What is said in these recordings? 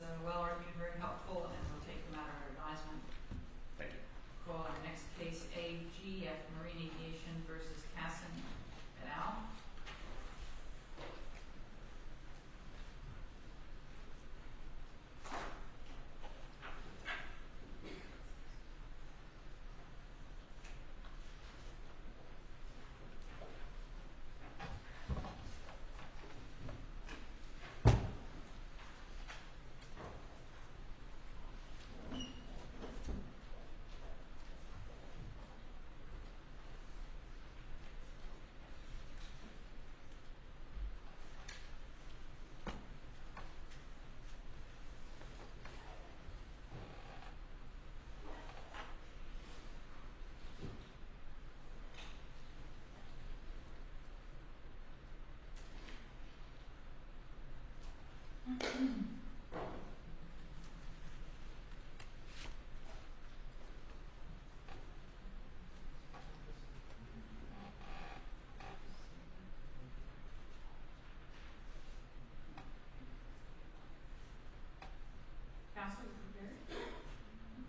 So well-argued, very helpful, and we'll take them out of our advisement. Thank you. We'll call our next case, AG, at Marine Aviation versus Cassin et al. Thank you. Cassin, are you there? Mm-hmm.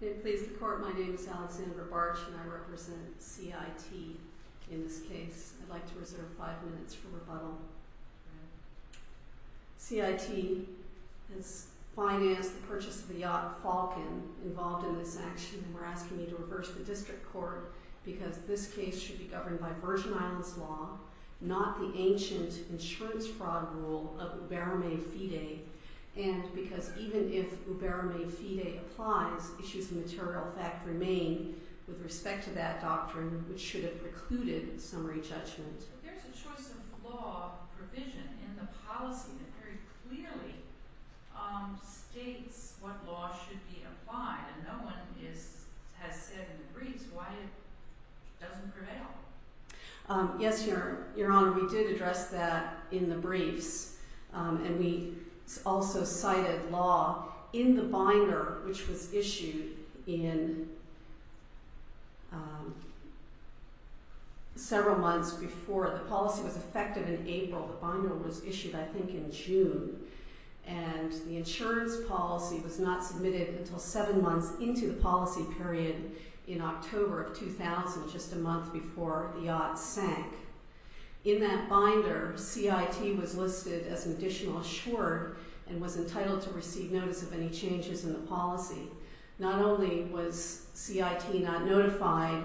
May it please the court, my name is Alexandra Bartsch, and I represent CIT in this case. I'd like to reserve five minutes for rebuttal. CIT has financed the purchase of a yacht, Falcon, involved in this action, and we're going to reverse the district court, because this case should be governed by Virgin Islands law, not the ancient insurance fraud rule of ubermae fide, and because even if ubermae fide applies, issues of material fact remain with respect to that doctrine, which should have precluded summary judgment. But there's a choice of law provision in the policy that very clearly states what law should be applied, and no one has said in the briefs why it doesn't prevail. Yes, Your Honor, we did address that in the briefs, and we also cited law in the binder, which was issued in several months before. The policy was effective in April. The binder was issued, I think, in June. And the insurance policy was not submitted until seven months into the policy period in October of 2000, just a month before the yacht sank. In that binder, CIT was listed as an additional short and was entitled to receive notice of any changes in the policy. Not only was CIT not notified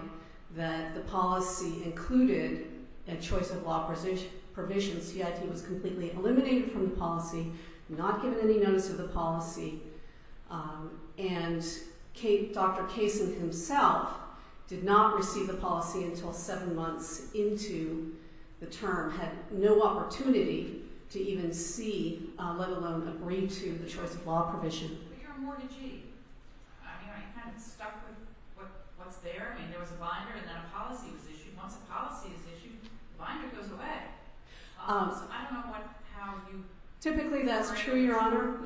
that the policy included a choice of law provision, CIT was completely eliminated from the policy, not given any notice of the policy. And Dr. Kaysen himself did not receive the policy until seven months into the term, had no opportunity to even see, let alone agree to, the choice of law provision. But you're a mortgagee. I mean, aren't you kind of stuck with what's there? I mean, there was a binder, and then a policy was issued. Once a policy is issued, the binder goes away. I don't know how you arrange that. Typically, that's true, Your Honor.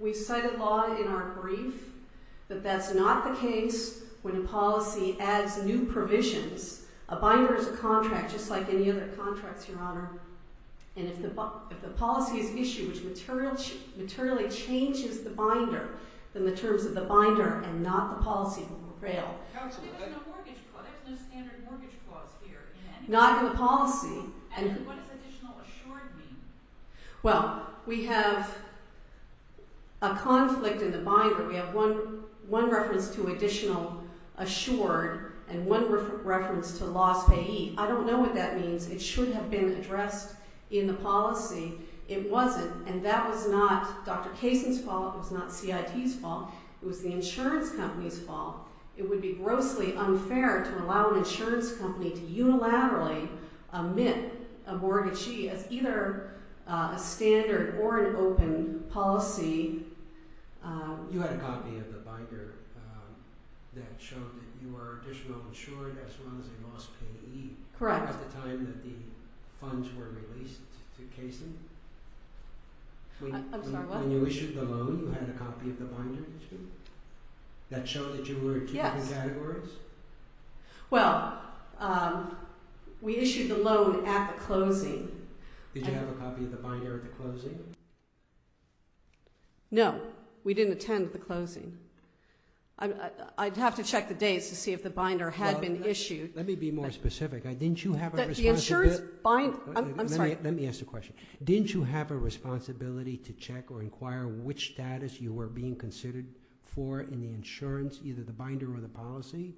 We cited law in our brief, but that's not the case when a policy adds new provisions. A binder is a contract, just like any other contracts, Your Honor. And if the policy is issued, which materially changes the binder, then the terms of the binder, and not the policy, will prevail. But there's no mortgage clause. There's no standard mortgage clause here. Not in the policy. And what does additional assured mean? Well, we have a conflict in the binder. We have one reference to additional assured, and one reference to loss payee. I don't know what that means. It should have been addressed in the policy. It wasn't. And that was not Dr. Kaysen's fault. It was not CIT's fault. It was the insurance company's fault. It would be grossly unfair to allow an insurance company to unilaterally omit a mortgagee as either a standard or an open policy. You had a copy of the binder that showed that you were additional assured, as well as a loss payee. Correct. At the time that the funds were released to Kaysen? I'm sorry, what? When you issued the loan, you had a copy of the binder, too? That showed that you were in two different categories? Well, we issued the loan at the closing. Did you have a copy of the binder at the closing? No. We didn't attend the closing. I'd have to check the dates to see if the binder had been issued. Let me be more specific. Didn't you have a responsibility to check or inquire which status you were being considered for in the insurance, either the binder or the policy,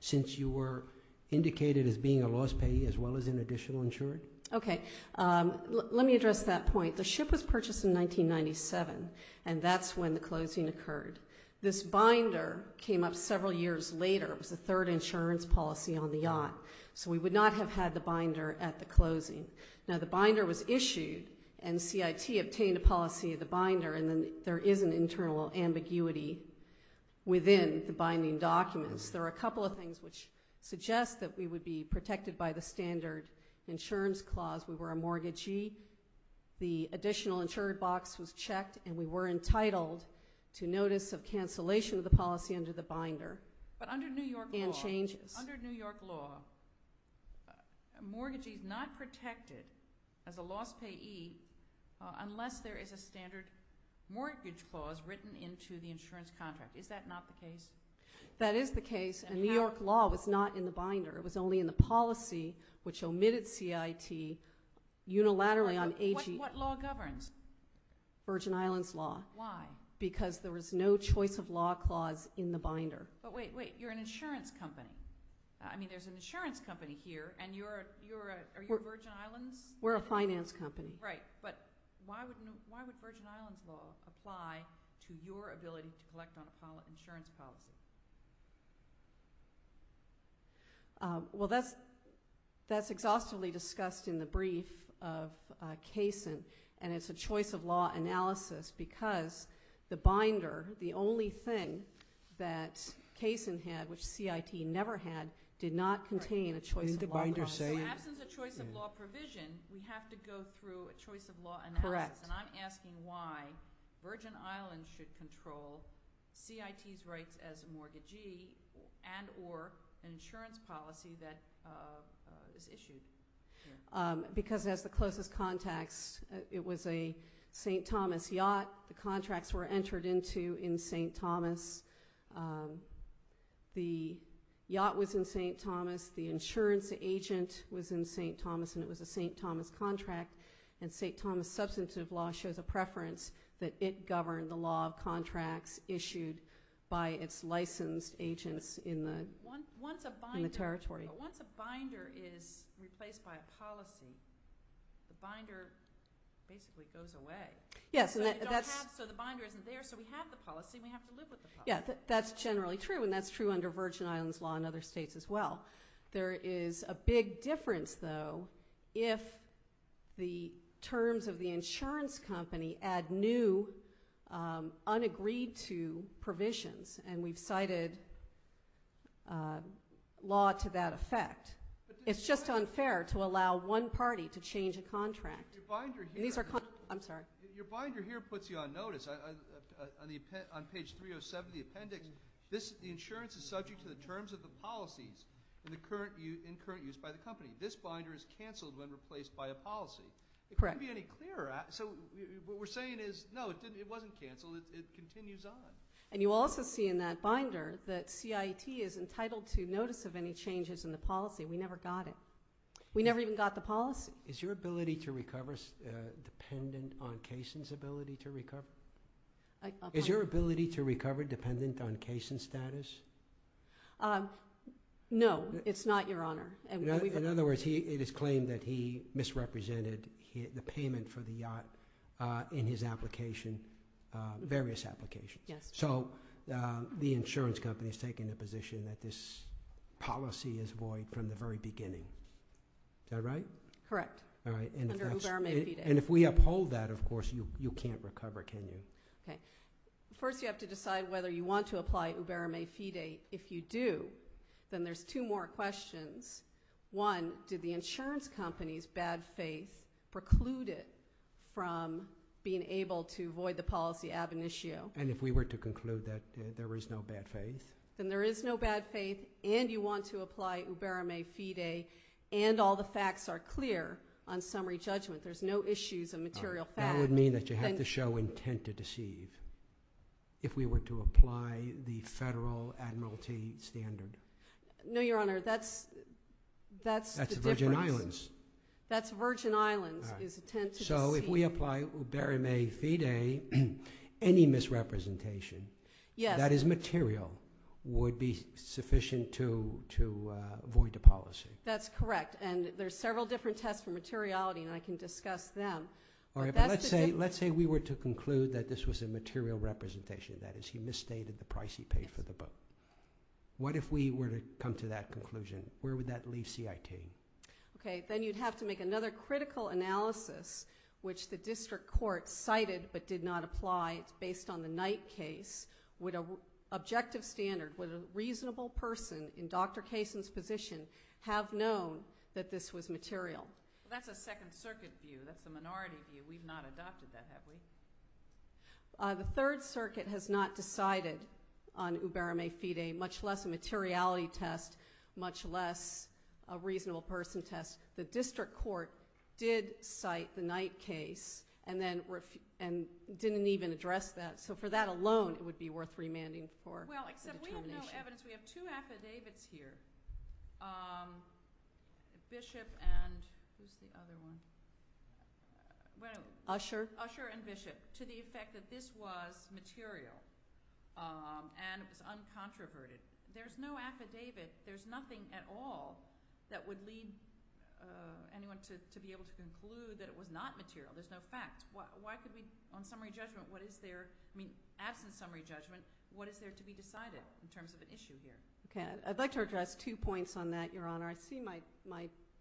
since you were indicated as being a loss payee, as well as an additional insured? OK. Let me address that point. The ship was purchased in 1997, and that's when the closing occurred. This binder came up several years later. It was the third insurance policy on the yacht. So we would not have had the binder at the closing. Now, the binder was issued, and CIT obtained a policy of the binder. And then there is an internal ambiguity within the binding documents. There are a couple of things which suggest that we would be protected by the standard insurance clause. We were a mortgagee. The additional insured box was checked, and we were entitled to notice of cancellation of the policy under the binder and changes. Under New York law, a mortgagee is not protected as a loss payee unless there is a standard mortgage clause written into the insurance contract. Is that not the case? That is the case, and New York law was not in the binder. It was only in the policy, which omitted CIT unilaterally on AG. What law governs? Virgin Islands law. Why? Because there was no choice of law clause in the binder. But wait, wait. You're an insurance company. I mean, there's an insurance company here, and you're a Virgin Islands? We're a finance company. Right. But why would Virgin Islands law apply to your ability to collect on a follow-up insurance policy? Well, that's exhaustively discussed in the brief of Kaysen, and it's a choice of law analysis because the binder, the only thing that Kaysen had, which CIT never had, did not contain a choice of law clause. So absence of choice of law provision, we have to go through a choice of law analysis. Correct. And I'm asking why Virgin Islands should control CIT's rights as a mortgagee and or an insurance policy that is issued here. Because it has the closest contacts. It was a St. Thomas yacht. The contracts were entered into in St. Thomas. The yacht was in St. Thomas. The insurance agent was in St. Thomas, and it was a St. Thomas contract. And St. Thomas substantive law shows a preference that it governed the law of contracts issued by its licensed agents in the territory. But once a binder is replaced by a policy, the binder basically goes away. Yes, and that's- So the binder isn't there, so we have the policy, and we have to live with the policy. Yeah, that's generally true, and that's true under Virgin Islands law in other states as well. There is a big difference, though, if the terms of the insurance company add new, unagreed to provisions. And we've cited law to that effect. It's just unfair to allow one party to change a contract. Your binder here- I'm sorry. Your binder here puts you on notice. On page 307 of the appendix, the insurance is subject to the terms of the policies in current use by the company. This binder is canceled when replaced by a policy. Correct. It couldn't be any clearer. So what we're saying is, no, it wasn't canceled. It continues on. And you also see in that binder that CIT is entitled to notice of any changes in the policy. We never got it. We never even got the policy. Is your ability to recover dependent on Cason's ability to recover? Is your ability to recover dependent on Cason's status? No, it's not, Your Honor. In other words, it is claimed that he misrepresented the payment for the yacht in his application, various applications. So the insurance company has taken a position that this policy is void from the very beginning. Is that right? Correct. All right. Under Uber or Mayfede. And if we uphold that, of course, you can't recover, can you? First, you have to decide whether you want to apply Uber or Mayfede. If you do, then there's two more questions. One, did the insurance company's bad faith preclude it from being able to avoid the policy ab initio? And if we were to conclude that there is no bad faith? Then there is no bad faith, and you want to apply Uber or Mayfede, and all the facts are clear on summary judgment. There's no issues of material fact. That would mean that you have to show intent to deceive if we were to apply the federal admiralty standard. No, Your Honor, that's the difference. That's the Virgin Islands. That's Virgin Islands is intent to deceive. So if we apply Uber or Mayfede, any misrepresentation that is material would be sufficient to avoid the policy. That's correct. And there's several different tests for materiality, and I can discuss them. Let's say we were to conclude that this was a material representation. That is, he misstated the price he paid for the book. What if we were to come to that conclusion? Where would that leave CIT? Then you'd have to make another critical analysis, which the district court cited but did not apply. It's based on the Knight case. Would an objective standard, would a reasonable person in Dr. Kaysen's position have known that this was material? That's a Second Circuit view. That's the minority view. We've not adopted that, have we? The Third Circuit has not decided on Uber or Mayfede, much less a materiality test, much less a reasonable person test. The district court did cite the Knight case and then didn't even address that. So for that alone, it would be worth remanding for determination. Well, except we have no evidence. We have two affidavits here, Bishop and who's the other one? Usher. Usher and Bishop, to the effect that this was material and it was uncontroverted. There's no affidavit. There's nothing at all that would lead anyone to be able to conclude that it was not material. There's no fact. Why could we, on summary judgment, what is there? I mean, absent summary judgment, what is there to be decided in terms of an issue here? OK, I'd like to address two points on that, Your Honor. I see my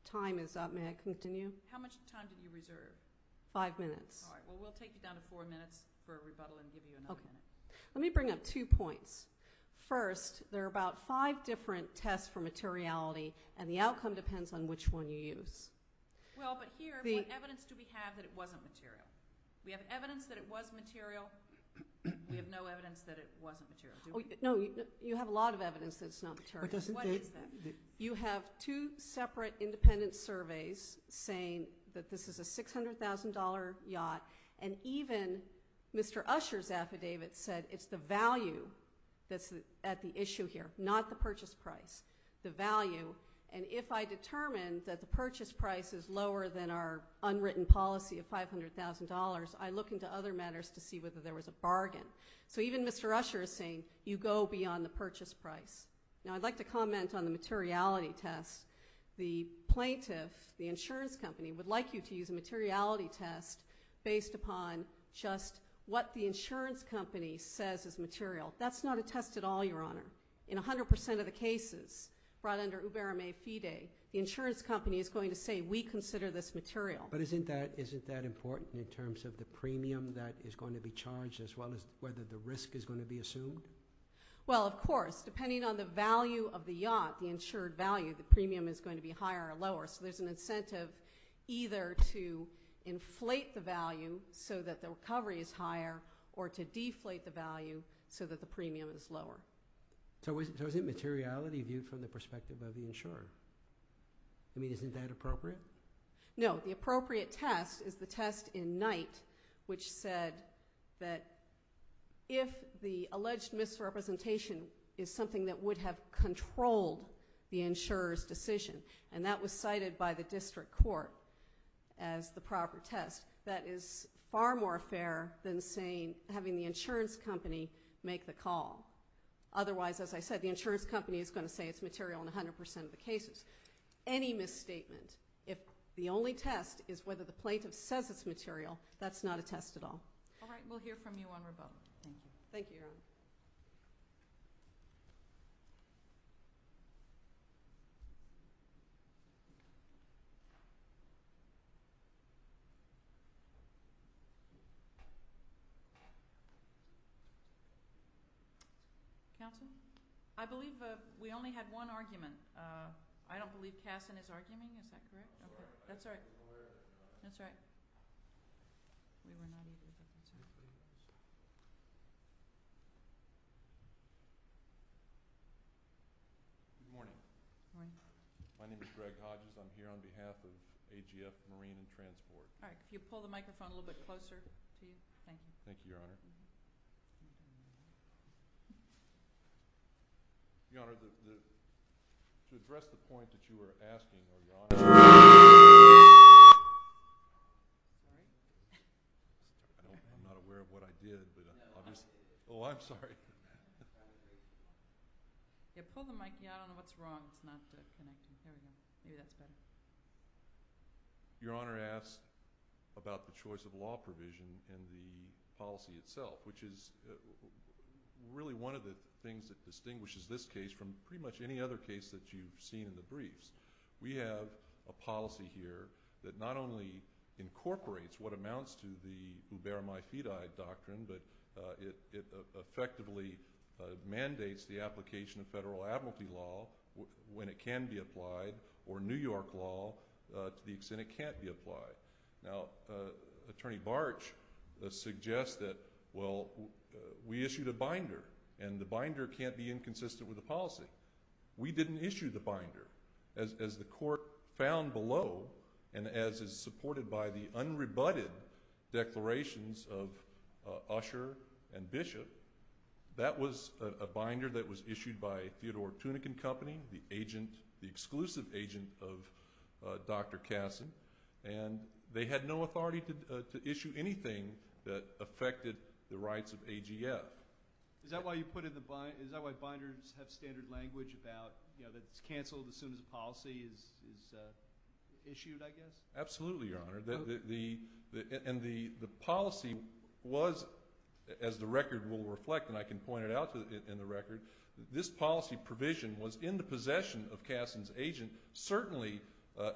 time is up. May I continue? How much time do you reserve? Five minutes. All right, well, we'll take it down to four minutes for a rebuttal and give you another minute. Let me bring up two points. First, there are about five different tests for materiality, and the outcome depends on which one you use. Well, but here, what evidence do we have that it wasn't material? We have evidence that it was material. We have no evidence that it wasn't material. No, you have a lot of evidence that it's not material. What is that? You have two separate independent surveys saying that this is a $600,000 yacht, and even Mr. Usher's affidavit said it's the value that's at the issue here, not the purchase price, the value. And if I determine that the purchase price is lower than our unwritten policy of $500,000, I look into other matters to see whether there was a bargain. So even Mr. Usher is saying, you go beyond the purchase price. Now, I'd like to comment on the materiality test. The plaintiff, the insurance company, would like you to use a materiality test based upon just what the insurance company says is material. That's not a test at all, Your Honor. In 100% of the cases brought under Uberame FIDE, the insurance company is going to say, we consider this material. But isn't that important in terms of the premium that is going to be charged, as well as whether the risk is going to be assumed? Well, of course, depending on the value of the yacht, the insured value, the premium is going to be higher or lower. So there's an incentive either to inflate the value so that the recovery is higher, or to deflate the value so that the premium is lower. So isn't materiality viewed from the perspective of the insurer? I mean, isn't that appropriate? No, the appropriate test is the test in Knight, which said that if the alleged misrepresentation is something that would have controlled the insurer's decision, and that was cited by the district court as the proper test, that is far more fair than saying, having the insurance company make the call. Otherwise, as I said, the insurance company is going to say it's material in 100% of the cases. is whether the plaintiff says it's material, that's not a test at all. All right, we'll hear from you on rebuttal. Thank you, Your Honor. Counsel? I believe we only had one argument. I don't believe Casson is arguing, is that correct? That's right, that's right. We were not able to get to him. Good morning. Good morning. My name is Greg Hodges. I'm here on behalf of AGS Marine and Transport. All right, could you pull the microphone a little bit closer, please? Thank you. Thank you, Your Honor. Your Honor, to address the point that you were asking, Your Honor. That's right. I'm not aware of what I did, but I'll just, oh, I'm sorry. Yeah, pull the mic, yeah, I don't know what's wrong. It's not the connection, maybe that's better. Your Honor asks about the choice of law provision in the policy itself, which is really one of the things that distinguishes this case from pretty much any other case that you've seen in the briefs. We have a policy here that not only incorporates what amounts to the ubermae fidei doctrine, but it effectively mandates the application of federal admiralty law when it can be applied, or New York law to the extent it can't be applied. Now, Attorney Bartsch suggests that, well, we issued a binder, and the binder can't be inconsistent with the policy. We didn't issue the binder. As the court found below, and as is supported by the unrebutted declarations of Usher and Bishop, that was a binder that was issued by Theodore Tunican Company, the agent, the exclusive agent of Dr. Kassin, and they had no authority to issue anything that affected the rights of AGF. Is that why you put in the, is that why binders have standard language about, you know, it's canceled as soon as a policy is issued, I guess? Absolutely, Your Honor, and the policy was, as the record will reflect, and I can point it out in the record, this policy provision was in the possession of Kassin's agent certainly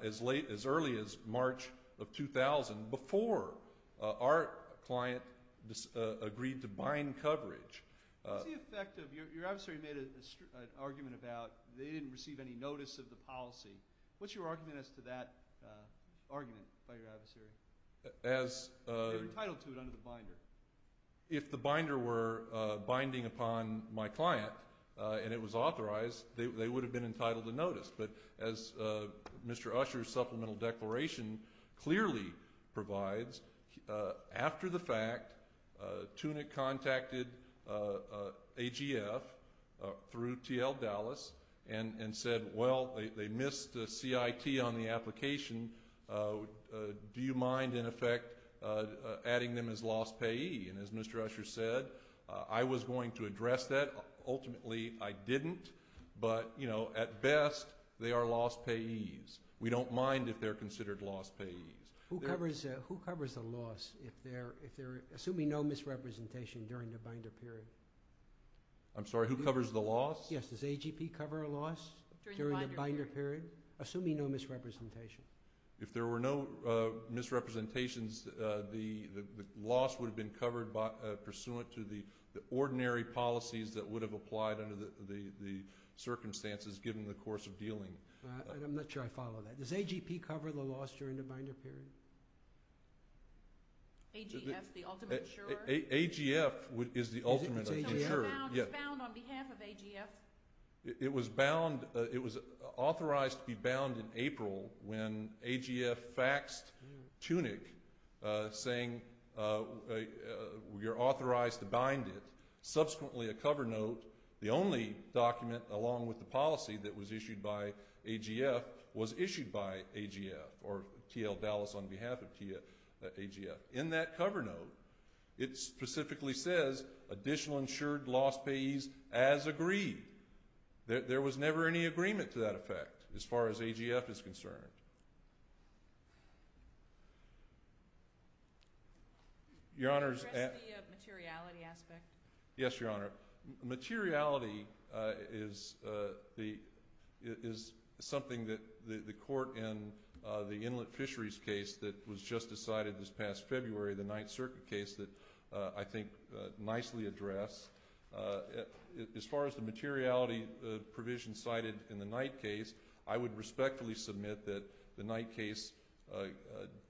as early as March of 2000 before our client agreed to bind coverage. What's the effect of, your adversary made an argument about they didn't receive any notice of the policy. What's your argument as to that argument by your adversary? They were entitled to it under the binder. If the binder were binding upon my client and it was authorized, they would have been entitled to notice, but as Mr. Usher's supplemental declaration clearly provides, after the fact, Tunick contacted AGF through T.L. Dallas and said, well, they missed the CIT on the application. Do you mind, in effect, adding them as lost payee? And as Mr. Usher said, I was going to address that. Ultimately, I didn't, but, you know, at best, they are lost payees. We don't mind if they're considered lost payees. Who covers the loss if they're, assuming no misrepresentation during the binder period? I'm sorry, who covers the loss? Yes, does AGP cover a loss during the binder period? Assuming no misrepresentation. If there were no misrepresentations, the loss would have been covered pursuant to the ordinary policies that would have applied under the circumstances given the course of dealing. I'm not sure I follow that. Does AGP cover the loss during the binder period? AGF, the ultimate insurer? AGF is the ultimate insurer. It's bound on behalf of AGF. It was bound, it was authorized to be bound in April when AGF faxed Tunick saying, you're authorized to bind it. Subsequently, a cover note, the only document along with the policy that was issued by AGF was issued by AGF, or T.L. Dallas on behalf of AGF. In that cover note, it specifically says additional insured loss payees as agreed. There was never any agreement to that effect as far as AGF is concerned. Your Honor's. The rest of the materiality aspect. Yes, Your Honor. Materiality is something that the court in the Inlet Fisheries case that was just decided this past February, the Ninth Circuit case that I think nicely addressed. As far as the materiality provision cited in the Knight case I would respectfully submit that the Knight case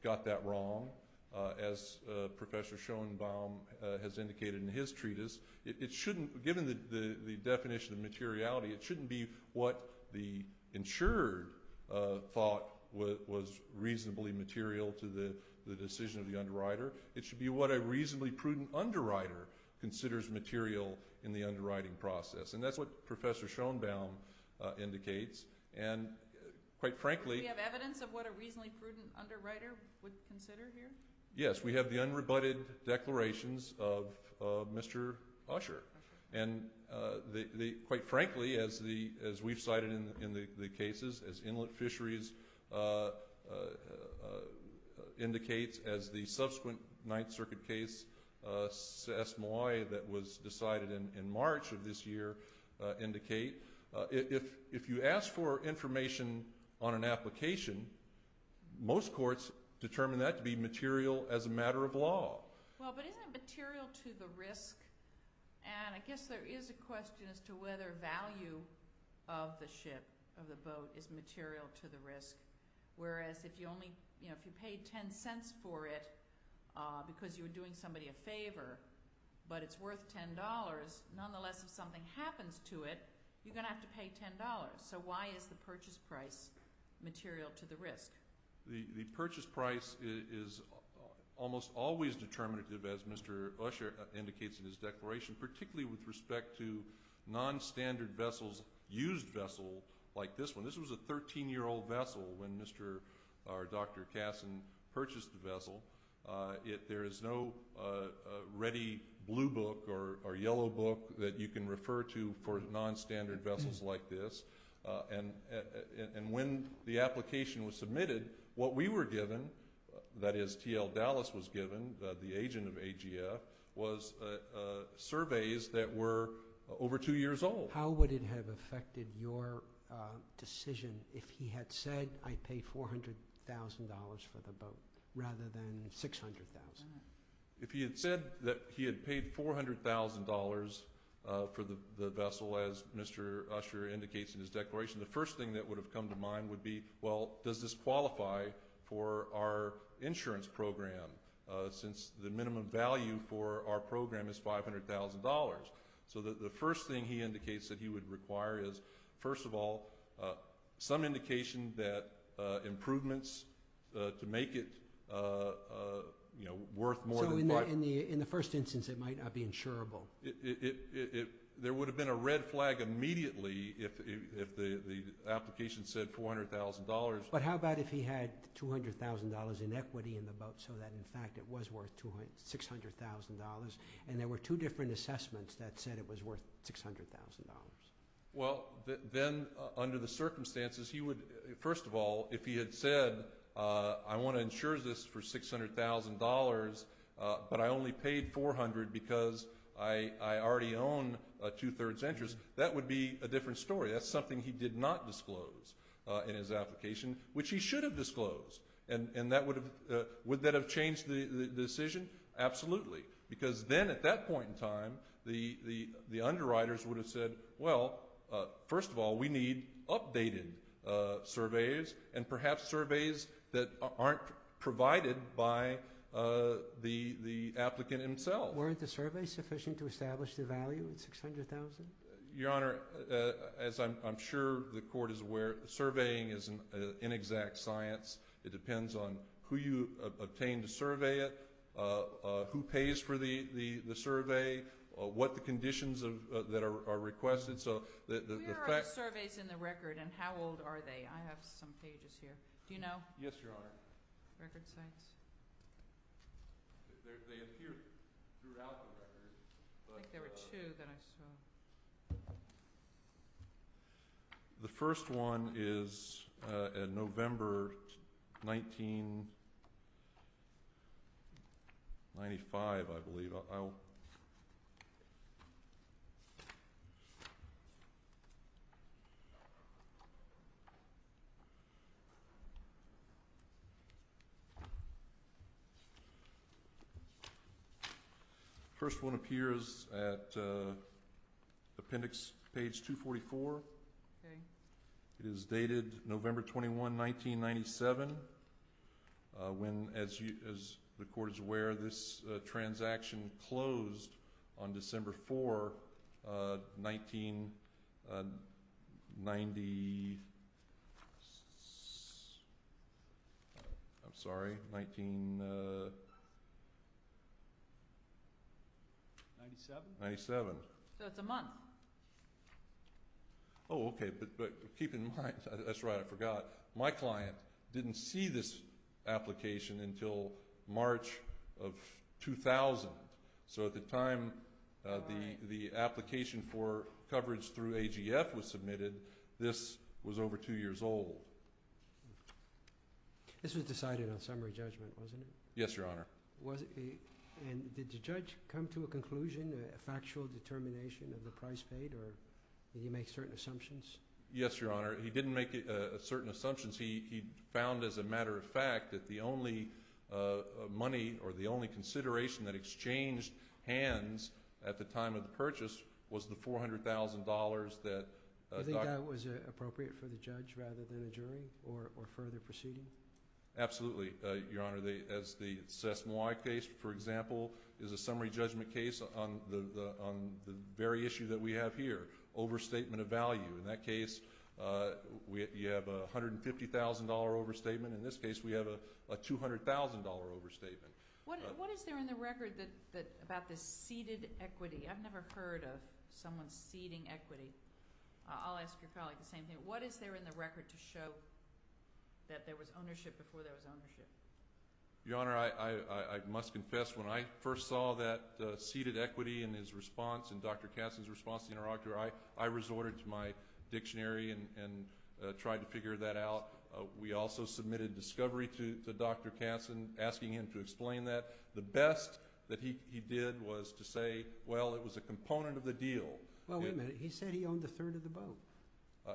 got that wrong as Professor Schoenbaum has indicated in his treatise. It shouldn't, given the definition of materiality, it shouldn't be what the insurer thought was reasonably material to the decision of the underwriter. It should be what a reasonably prudent underwriter considers material in the underwriting process. And that's what Professor Schoenbaum indicates. And quite frankly. Do we have evidence of what a reasonably prudent underwriter would consider here? Yes, we have the unrebutted declarations of Mr. Usher. And quite frankly, as we've cited in the cases, as Inlet Fisheries indicates, as the subsequent Ninth Circuit case S. Malloy that was decided in March of this year indicate, if you ask for information on an application, most courts determine that to be material as a matter of law. Well, but isn't it material to the risk? And I guess there is a question as to whether value of the ship, of the boat is material to the risk. Whereas if you only, if you paid 10 cents for it, because you were doing somebody a favor, but it's worth $10, nonetheless, if something happens to it, you're gonna have to pay $10. So why is the purchase price material to the risk? The purchase price is almost always determinative as Mr. Usher indicates in his declaration, particularly with respect to non-standard vessels, used vessel like this one. This was a 13-year-old vessel when Mr. or Dr. Kassin purchased the vessel. There is no ready blue book or yellow book that you can refer to for non-standard vessels like this. And when the application was submitted, what we were given, that is T.L. Dallas was given, the agent of AGF, was surveys that were over two years old. How would it have affected your decision if he had said, I pay $400,000 for the boat rather than 600,000? If he had said that he had paid $400,000 for the vessel as Mr. Usher indicates in his declaration, the first thing that would have come to mind would be, well, does this qualify for our insurance program since the minimum value for our program is $500,000? So the first thing he indicates that he would require is, first of all, some indication that improvements to make it worth more than five. So in the first instance, it might not be insurable. It, there would have been a red flag immediately if the application said $400,000. But how about if he had $200,000 in equity in the boat so that in fact it was worth $600,000 and there were two different assessments that said it was worth $600,000? Well, then under the circumstances, he would, first of all, if he had said, I wanna insure this for $600,000 but I only paid 400 because I already own a two-thirds interest, that would be a different story. That's something he did not disclose in his application, which he should have disclosed. And that would have, would that have changed the decision? Absolutely, because then at that point in time, the underwriters would have said, well, first of all, we need updated surveys and perhaps surveys that aren't provided by the applicant himself. Were the surveys sufficient to establish the value of $600,000? Your Honor, as I'm sure the court is aware, surveying is an inexact science. It depends on who you obtain to survey it, who pays for the survey, what the conditions that are requested. So the fact- Where are the surveys in the record and how old are they? I have some pages here. Do you know? Yes, Your Honor. Record sites. They appear throughout the record. I think there were two that I saw. The first one is in November 1995, I believe. First one appears at appendix page 244. It is dated November 21, 1997. When, as the court is aware, this transaction closed on December 4, 1990. I'm sorry, 1997. So it's a month. Oh, okay, but keep in mind, that's right, I forgot. My client didn't see this application until March of 2000. So at the time the application for coverage through AGF was submitted, this was over two years old. This was decided on summary judgment, wasn't it? Yes, Your Honor. And did the judge come to a conclusion, a factual determination of the price paid, or did he make certain assumptions? Yes, Your Honor. He didn't make certain assumptions. He found, as a matter of fact, that the only money or the only consideration that exchanged hands at the time of the purchase was the $400,000 that- Do you think that was appropriate for the judge rather than a jury, or further proceeding? Absolutely, Your Honor. As the Sasse-Moi case, for example, is a summary judgment case on the very issue that we have here, overstatement of value. In that case, you have a $150,000 overstatement. In this case, we have a $200,000 overstatement. What is there in the record about the ceded equity? I've never heard of someone ceding equity. I'll ask your colleague the same thing. What is there in the record to show that there was ownership before there was ownership? Your Honor, I must confess, when I first saw that ceded equity in his response, in Dr. Katzen's response to the interrogator, I resorted to my dictionary and tried to figure that out. We also submitted discovery to Dr. Katzen, asking him to explain that. The best that he did was to say, well, it was a component of the deal. Well, wait a minute. He said he owned a third of the boat.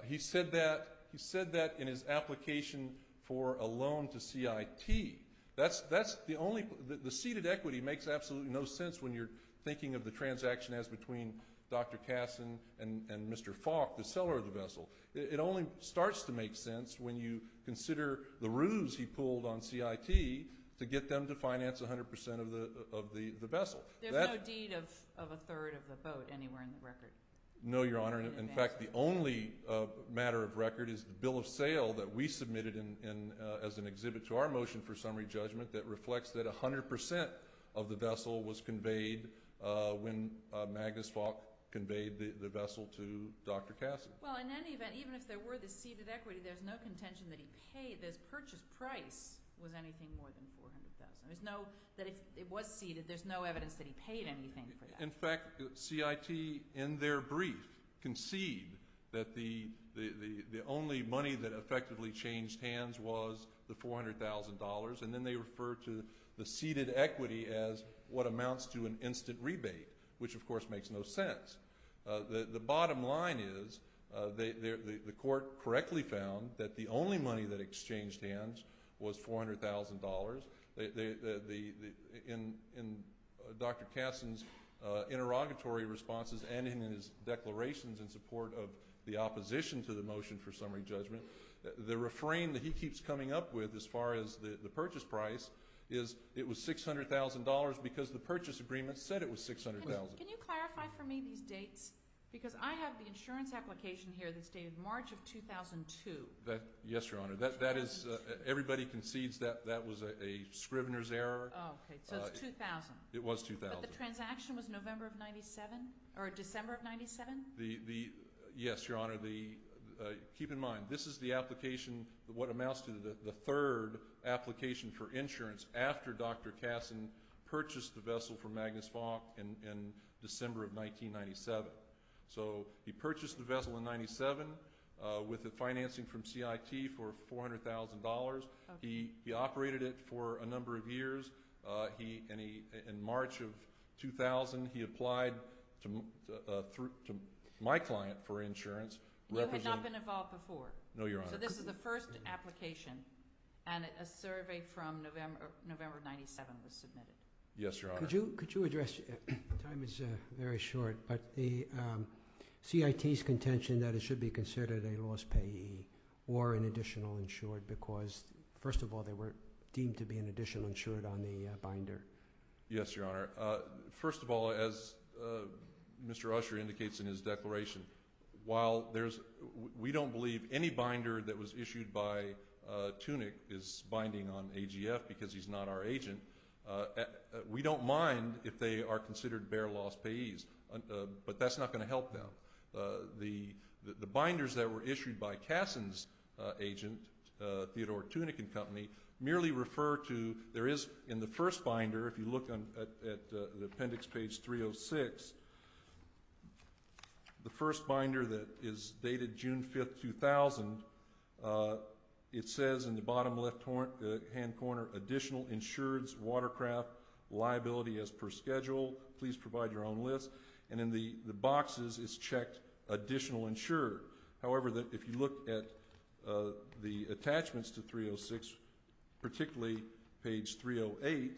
He said that in his application for a loan to CIT. That's the only, the ceded equity makes absolutely no sense when you're thinking of the transaction as between Dr. Katzen and Mr. Falk, the seller of the vessel. It only starts to make sense when you consider the ruse he pulled on CIT to get them to finance 100% of the vessel. There's no deed of a third of the boat anywhere in the record. No, Your Honor. In fact, the only matter of record is the bill of sale that we submitted as an exhibit to our motion for summary judgment that reflects that 100% of the vessel was conveyed when Magnus Falk conveyed the vessel to Dr. Katzen. Well, in any event, even if there were the ceded equity, there's no contention that he paid, this purchase price was anything more than 400,000. There's no, that it was ceded. There's no evidence that he paid anything for that. In fact, CIT, in their brief, concede that the only money that effectively changed hands was the $400,000, and then they refer to the ceded equity as what amounts to an instant rebate, which, of course, makes no sense. The bottom line is, the court correctly found that the only money that exchanged hands was $400,000. In Dr. Katzen's interrogatory responses and in his declarations in support of the opposition to the motion for summary judgment, the refrain that he keeps coming up with as far as the purchase price is it was $600,000 because the purchase agreement said it was $600,000. Can you clarify for me these dates? Because I have the insurance application here that stated March of 2002. Yes, Your Honor. That is, everybody concedes that that was a scrivener's error. Oh, okay, so it's 2000. It was 2000. But the transaction was November of 97, or December of 97? The, yes, Your Honor, the, keep in mind, this is the application, what amounts to the third application for insurance after Dr. Katzen purchased the vessel from Magnus Fock in December of 1997. So he purchased the vessel in 97 with the financing from CIT for $400,000. He operated it for a number of years. He, in March of 2000, he applied to my client for insurance representing. You had not been involved before? No, Your Honor. So this is the first application, and a survey from November of 97 was submitted? Yes, Your Honor. Could you address, time is very short, but the CIT's contention that it should be considered a lost payee, or an additional insured, because, first of all, they were deemed to be an additional insured on the binder. Yes, Your Honor. First of all, as Mr. Usher indicates in his declaration, while there's, we don't believe any binder that was issued by Tunick is binding on AGF because he's not our agent. We don't mind if they are considered bare lost payees, but that's not gonna help them. The binders that were issued by Kasson's agent, Theodore Tunick and Company, merely refer to, there is in the first binder, if you look at the appendix page 306, the first binder that is dated June 5th, 2000, it says in the bottom left hand corner, additional insureds, watercraft, liability as per schedule, please provide your own list, and in the boxes is checked additional insured. However, if you look at the attachments to 306, particularly page 308,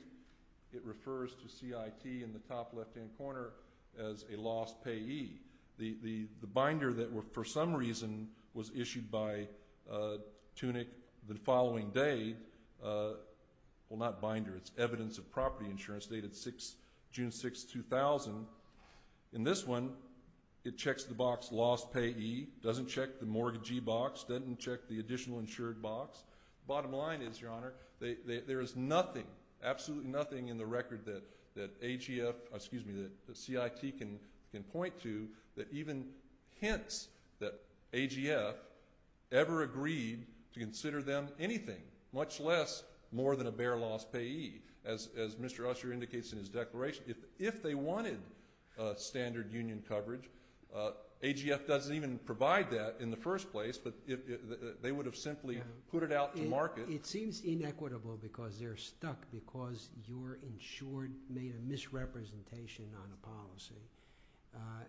it refers to CIT in the top left hand corner as a lost payee. The binder that were, for some reason, was issued by Tunick the following day, well not binder, it's evidence of property insurance dated June 6th, 2000. In this one, it checks the box lost payee, doesn't check the mortgagee box, doesn't check the additional insured box. Bottom line is, your honor, there is nothing, absolutely nothing in the record that AGF, excuse me, that CIT can point to that even hints that AGF ever agreed to consider them anything, much less more than a bare loss payee, as Mr. Usher indicates in his declaration. If they wanted standard union coverage, AGF doesn't even provide that in the first place, but they would have simply put it out to market. It seems inequitable because they're stuck because your insured made a misrepresentation on a policy,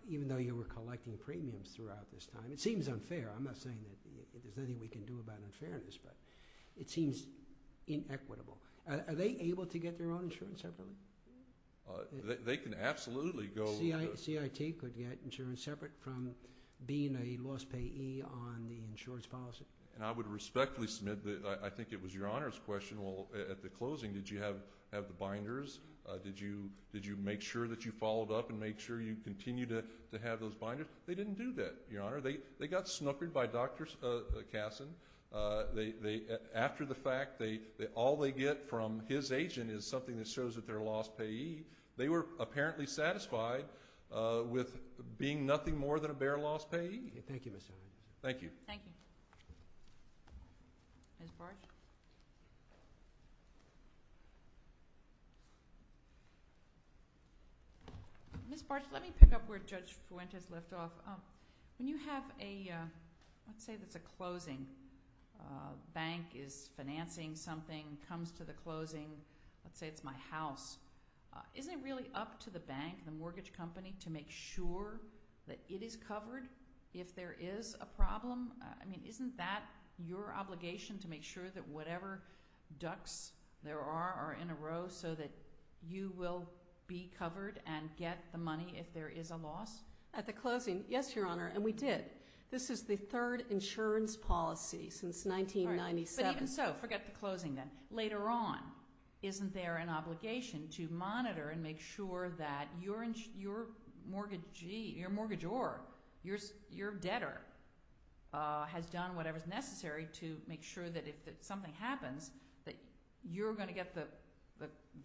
even though you were collecting premiums throughout this time. It seems unfair. I'm not saying that there's anything we can do about unfairness, but it seems inequitable. Are they able to get their own insurance separately? They can absolutely go. CIT could get insurance separate from being a lost payee on the insurance policy. And I would respectfully submit that, I think it was your honor's question, well, at the closing, did you have the binders? Did you make sure that you followed up and make sure you continue to have those binders? They didn't do that, your honor. They got snookered by Dr. Kasson. After the fact, all they get from his agent is something that shows that they're a lost payee. They were apparently satisfied with being nothing more than a bare lost payee. Thank you, Mr. Herrera. Thank you. Thank you. Ms. Bartsch? Ms. Bartsch, let me pick up where Judge Fuentes left off. When you have a, let's say that's a closing, bank is financing something, comes to the closing, let's say it's my house, isn't it really up to the bank, the mortgage company, to make sure that it is covered if there is a problem? Isn't that your obligation to make sure that whatever ducks there are are in a row so that you will be covered and get the money if there is a loss? At the closing, yes, your honor, and we did. This is the third insurance policy since 1997. All right, but even so, forget the closing then. Later on, isn't there an obligation to monitor and make sure that your mortgagee, your mortgagor, your debtor, has done whatever's necessary to make sure that if something happens, that you're gonna get the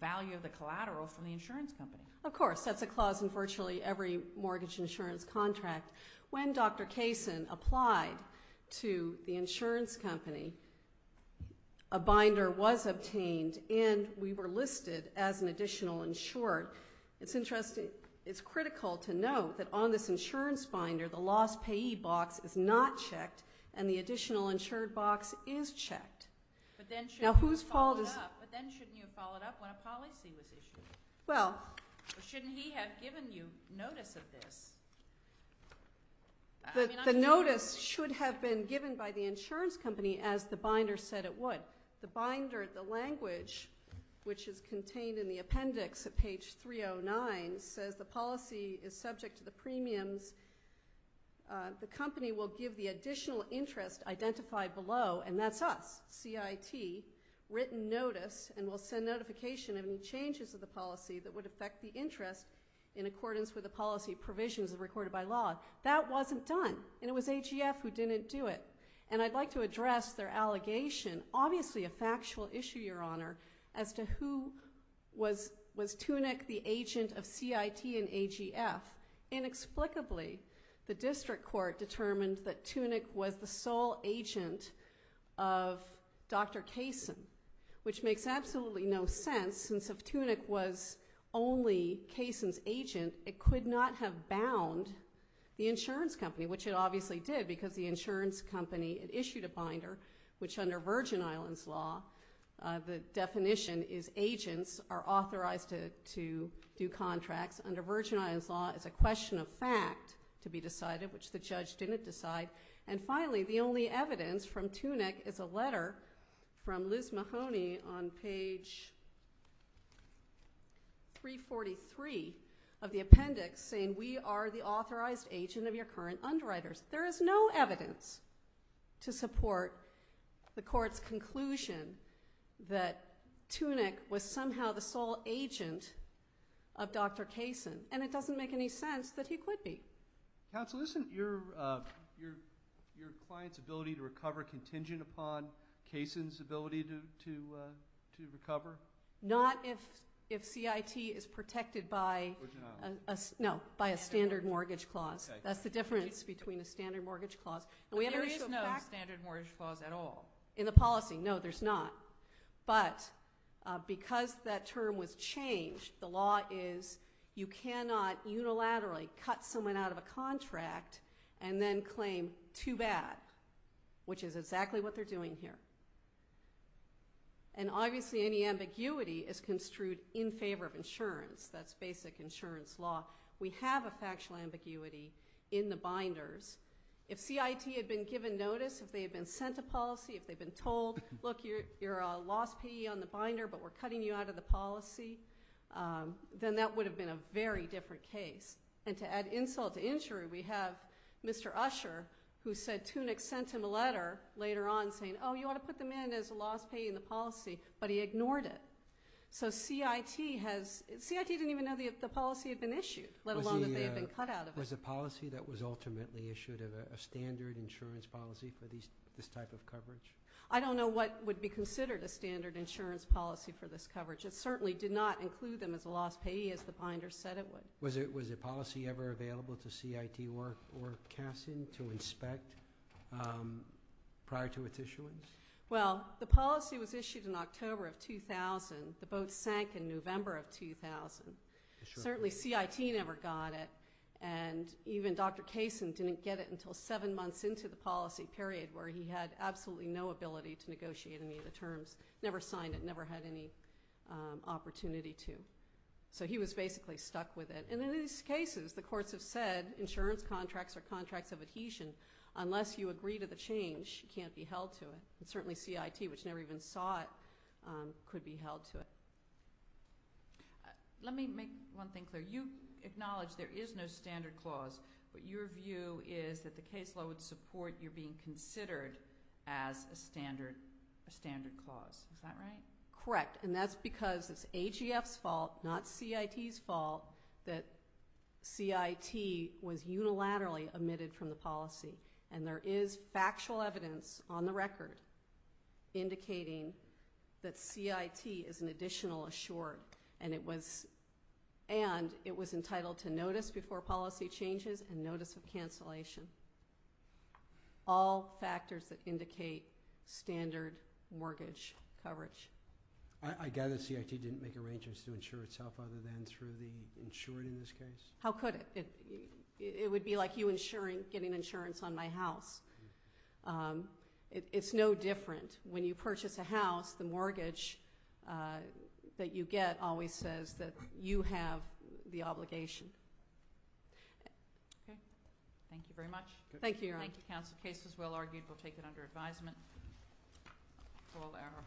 value of the collateral from the insurance company? Of course, that's a clause in virtually every mortgage insurance contract. When Dr. Kaysen applied to the insurance company, a binder was obtained, and we were listed as an additional insured. It's interesting, it's critical to note that on this insurance binder, the loss payee box is not checked, and the additional insured box is checked. But then shouldn't you have followed up when a policy was issued? Well. Shouldn't he have given you notice of this? The notice should have been given by the insurance company as the binder said it would. The binder, the language, which is contained in the appendix at page 309, says the policy is subject to the premiums. The company will give the additional interest identified below, and that's us, CIT, written notice, and will send notification of any changes of the policy that would affect the interest in accordance with the policy provisions that are recorded by law. That wasn't done, and it was AGF who didn't do it. And I'd like to address their allegation, obviously a factual issue, Your Honor, as to who was Tunick the agent of CIT and AGF. Inexplicably, the district court determined that Tunick was the sole agent of Dr. Kaysen, which makes absolutely no sense, since if Tunick was only Kaysen's agent, it could not have bound the insurance company, which it obviously did, because the insurance company had issued a binder, which under Virgin Islands law, the definition is agents are authorized to do contracts. Under Virgin Islands law, it's a question of fact to be decided, which the judge didn't decide. And finally, the only evidence from Tunick is a letter from Liz Mahoney on page 343 of the appendix saying, we are the authorized agent of your current underwriters. There is no evidence to support the court's conclusion that Tunick was somehow the sole agent of Dr. Kaysen, and it doesn't make any sense that he could be. Counsel, isn't your client's ability to recover contingent upon Kaysen's ability to recover? Not if CIT is protected by, no, by a standard mortgage clause. That's the difference between a standard mortgage clause. There is no standard mortgage clause at all. In the policy, no, there's not. But because that term was changed, the law is you cannot unilaterally cut someone out of a contract and then claim too bad. Which is exactly what they're doing here. And obviously any ambiguity is construed in favor of insurance, that's basic insurance law. We have a factual ambiguity in the binders. If CIT had been given notice, if they had been sent a policy, if they'd been told, look, you're a lost PE on the binder, but we're cutting you out of the policy, then that would have been a very different case. And to add insult to injury, we have Mr. Usher, who said Tunick sent him a letter later on saying, oh, you ought to put them in as a lost PE in the policy, but he ignored it. So CIT has, CIT didn't even know the policy had been issued, let alone that they had been cut out of it. Was the policy that was ultimately issued a standard insurance policy for this type of coverage? I don't know what would be considered a standard insurance policy for this coverage. It certainly did not include them as a lost PE as the binders said it would. Was a policy ever available to CIT or Kaysen to inspect prior to its issuance? Well, the policy was issued in October of 2000. The boat sank in November of 2000. Certainly CIT never got it, and even Dr. Kaysen didn't get it until seven months into the policy period where he had absolutely no ability to negotiate any of the terms. Never signed it, never had any opportunity to. So he was basically stuck with it. And in these cases, the courts have said that insurance contracts or contracts of adhesion, unless you agree to the change, can't be held to it. And certainly CIT, which never even saw it, could be held to it. Let me make one thing clear. You acknowledge there is no standard clause, but your view is that the caseload support you're being considered as a standard clause. Is that right? Correct, and that's because it's AGF's fault, not CIT's fault, that CIT was unilaterally omitted from the policy. And there is factual evidence on the record indicating that CIT is an additional assured, and it was entitled to notice before policy changes and notice of cancellation. All factors that indicate standard mortgage coverage. I gather CIT didn't make arrangements to insure itself other than through the insured in this case? How could it? It would be like you insuring, getting insurance on my house. It's no different. When you purchase a house, the mortgage that you get always says that you have the obligation. Okay, thank you very much. Thank you, Your Honor. Thank you, counsel. Case is well argued. We'll take it under advisement. Full error.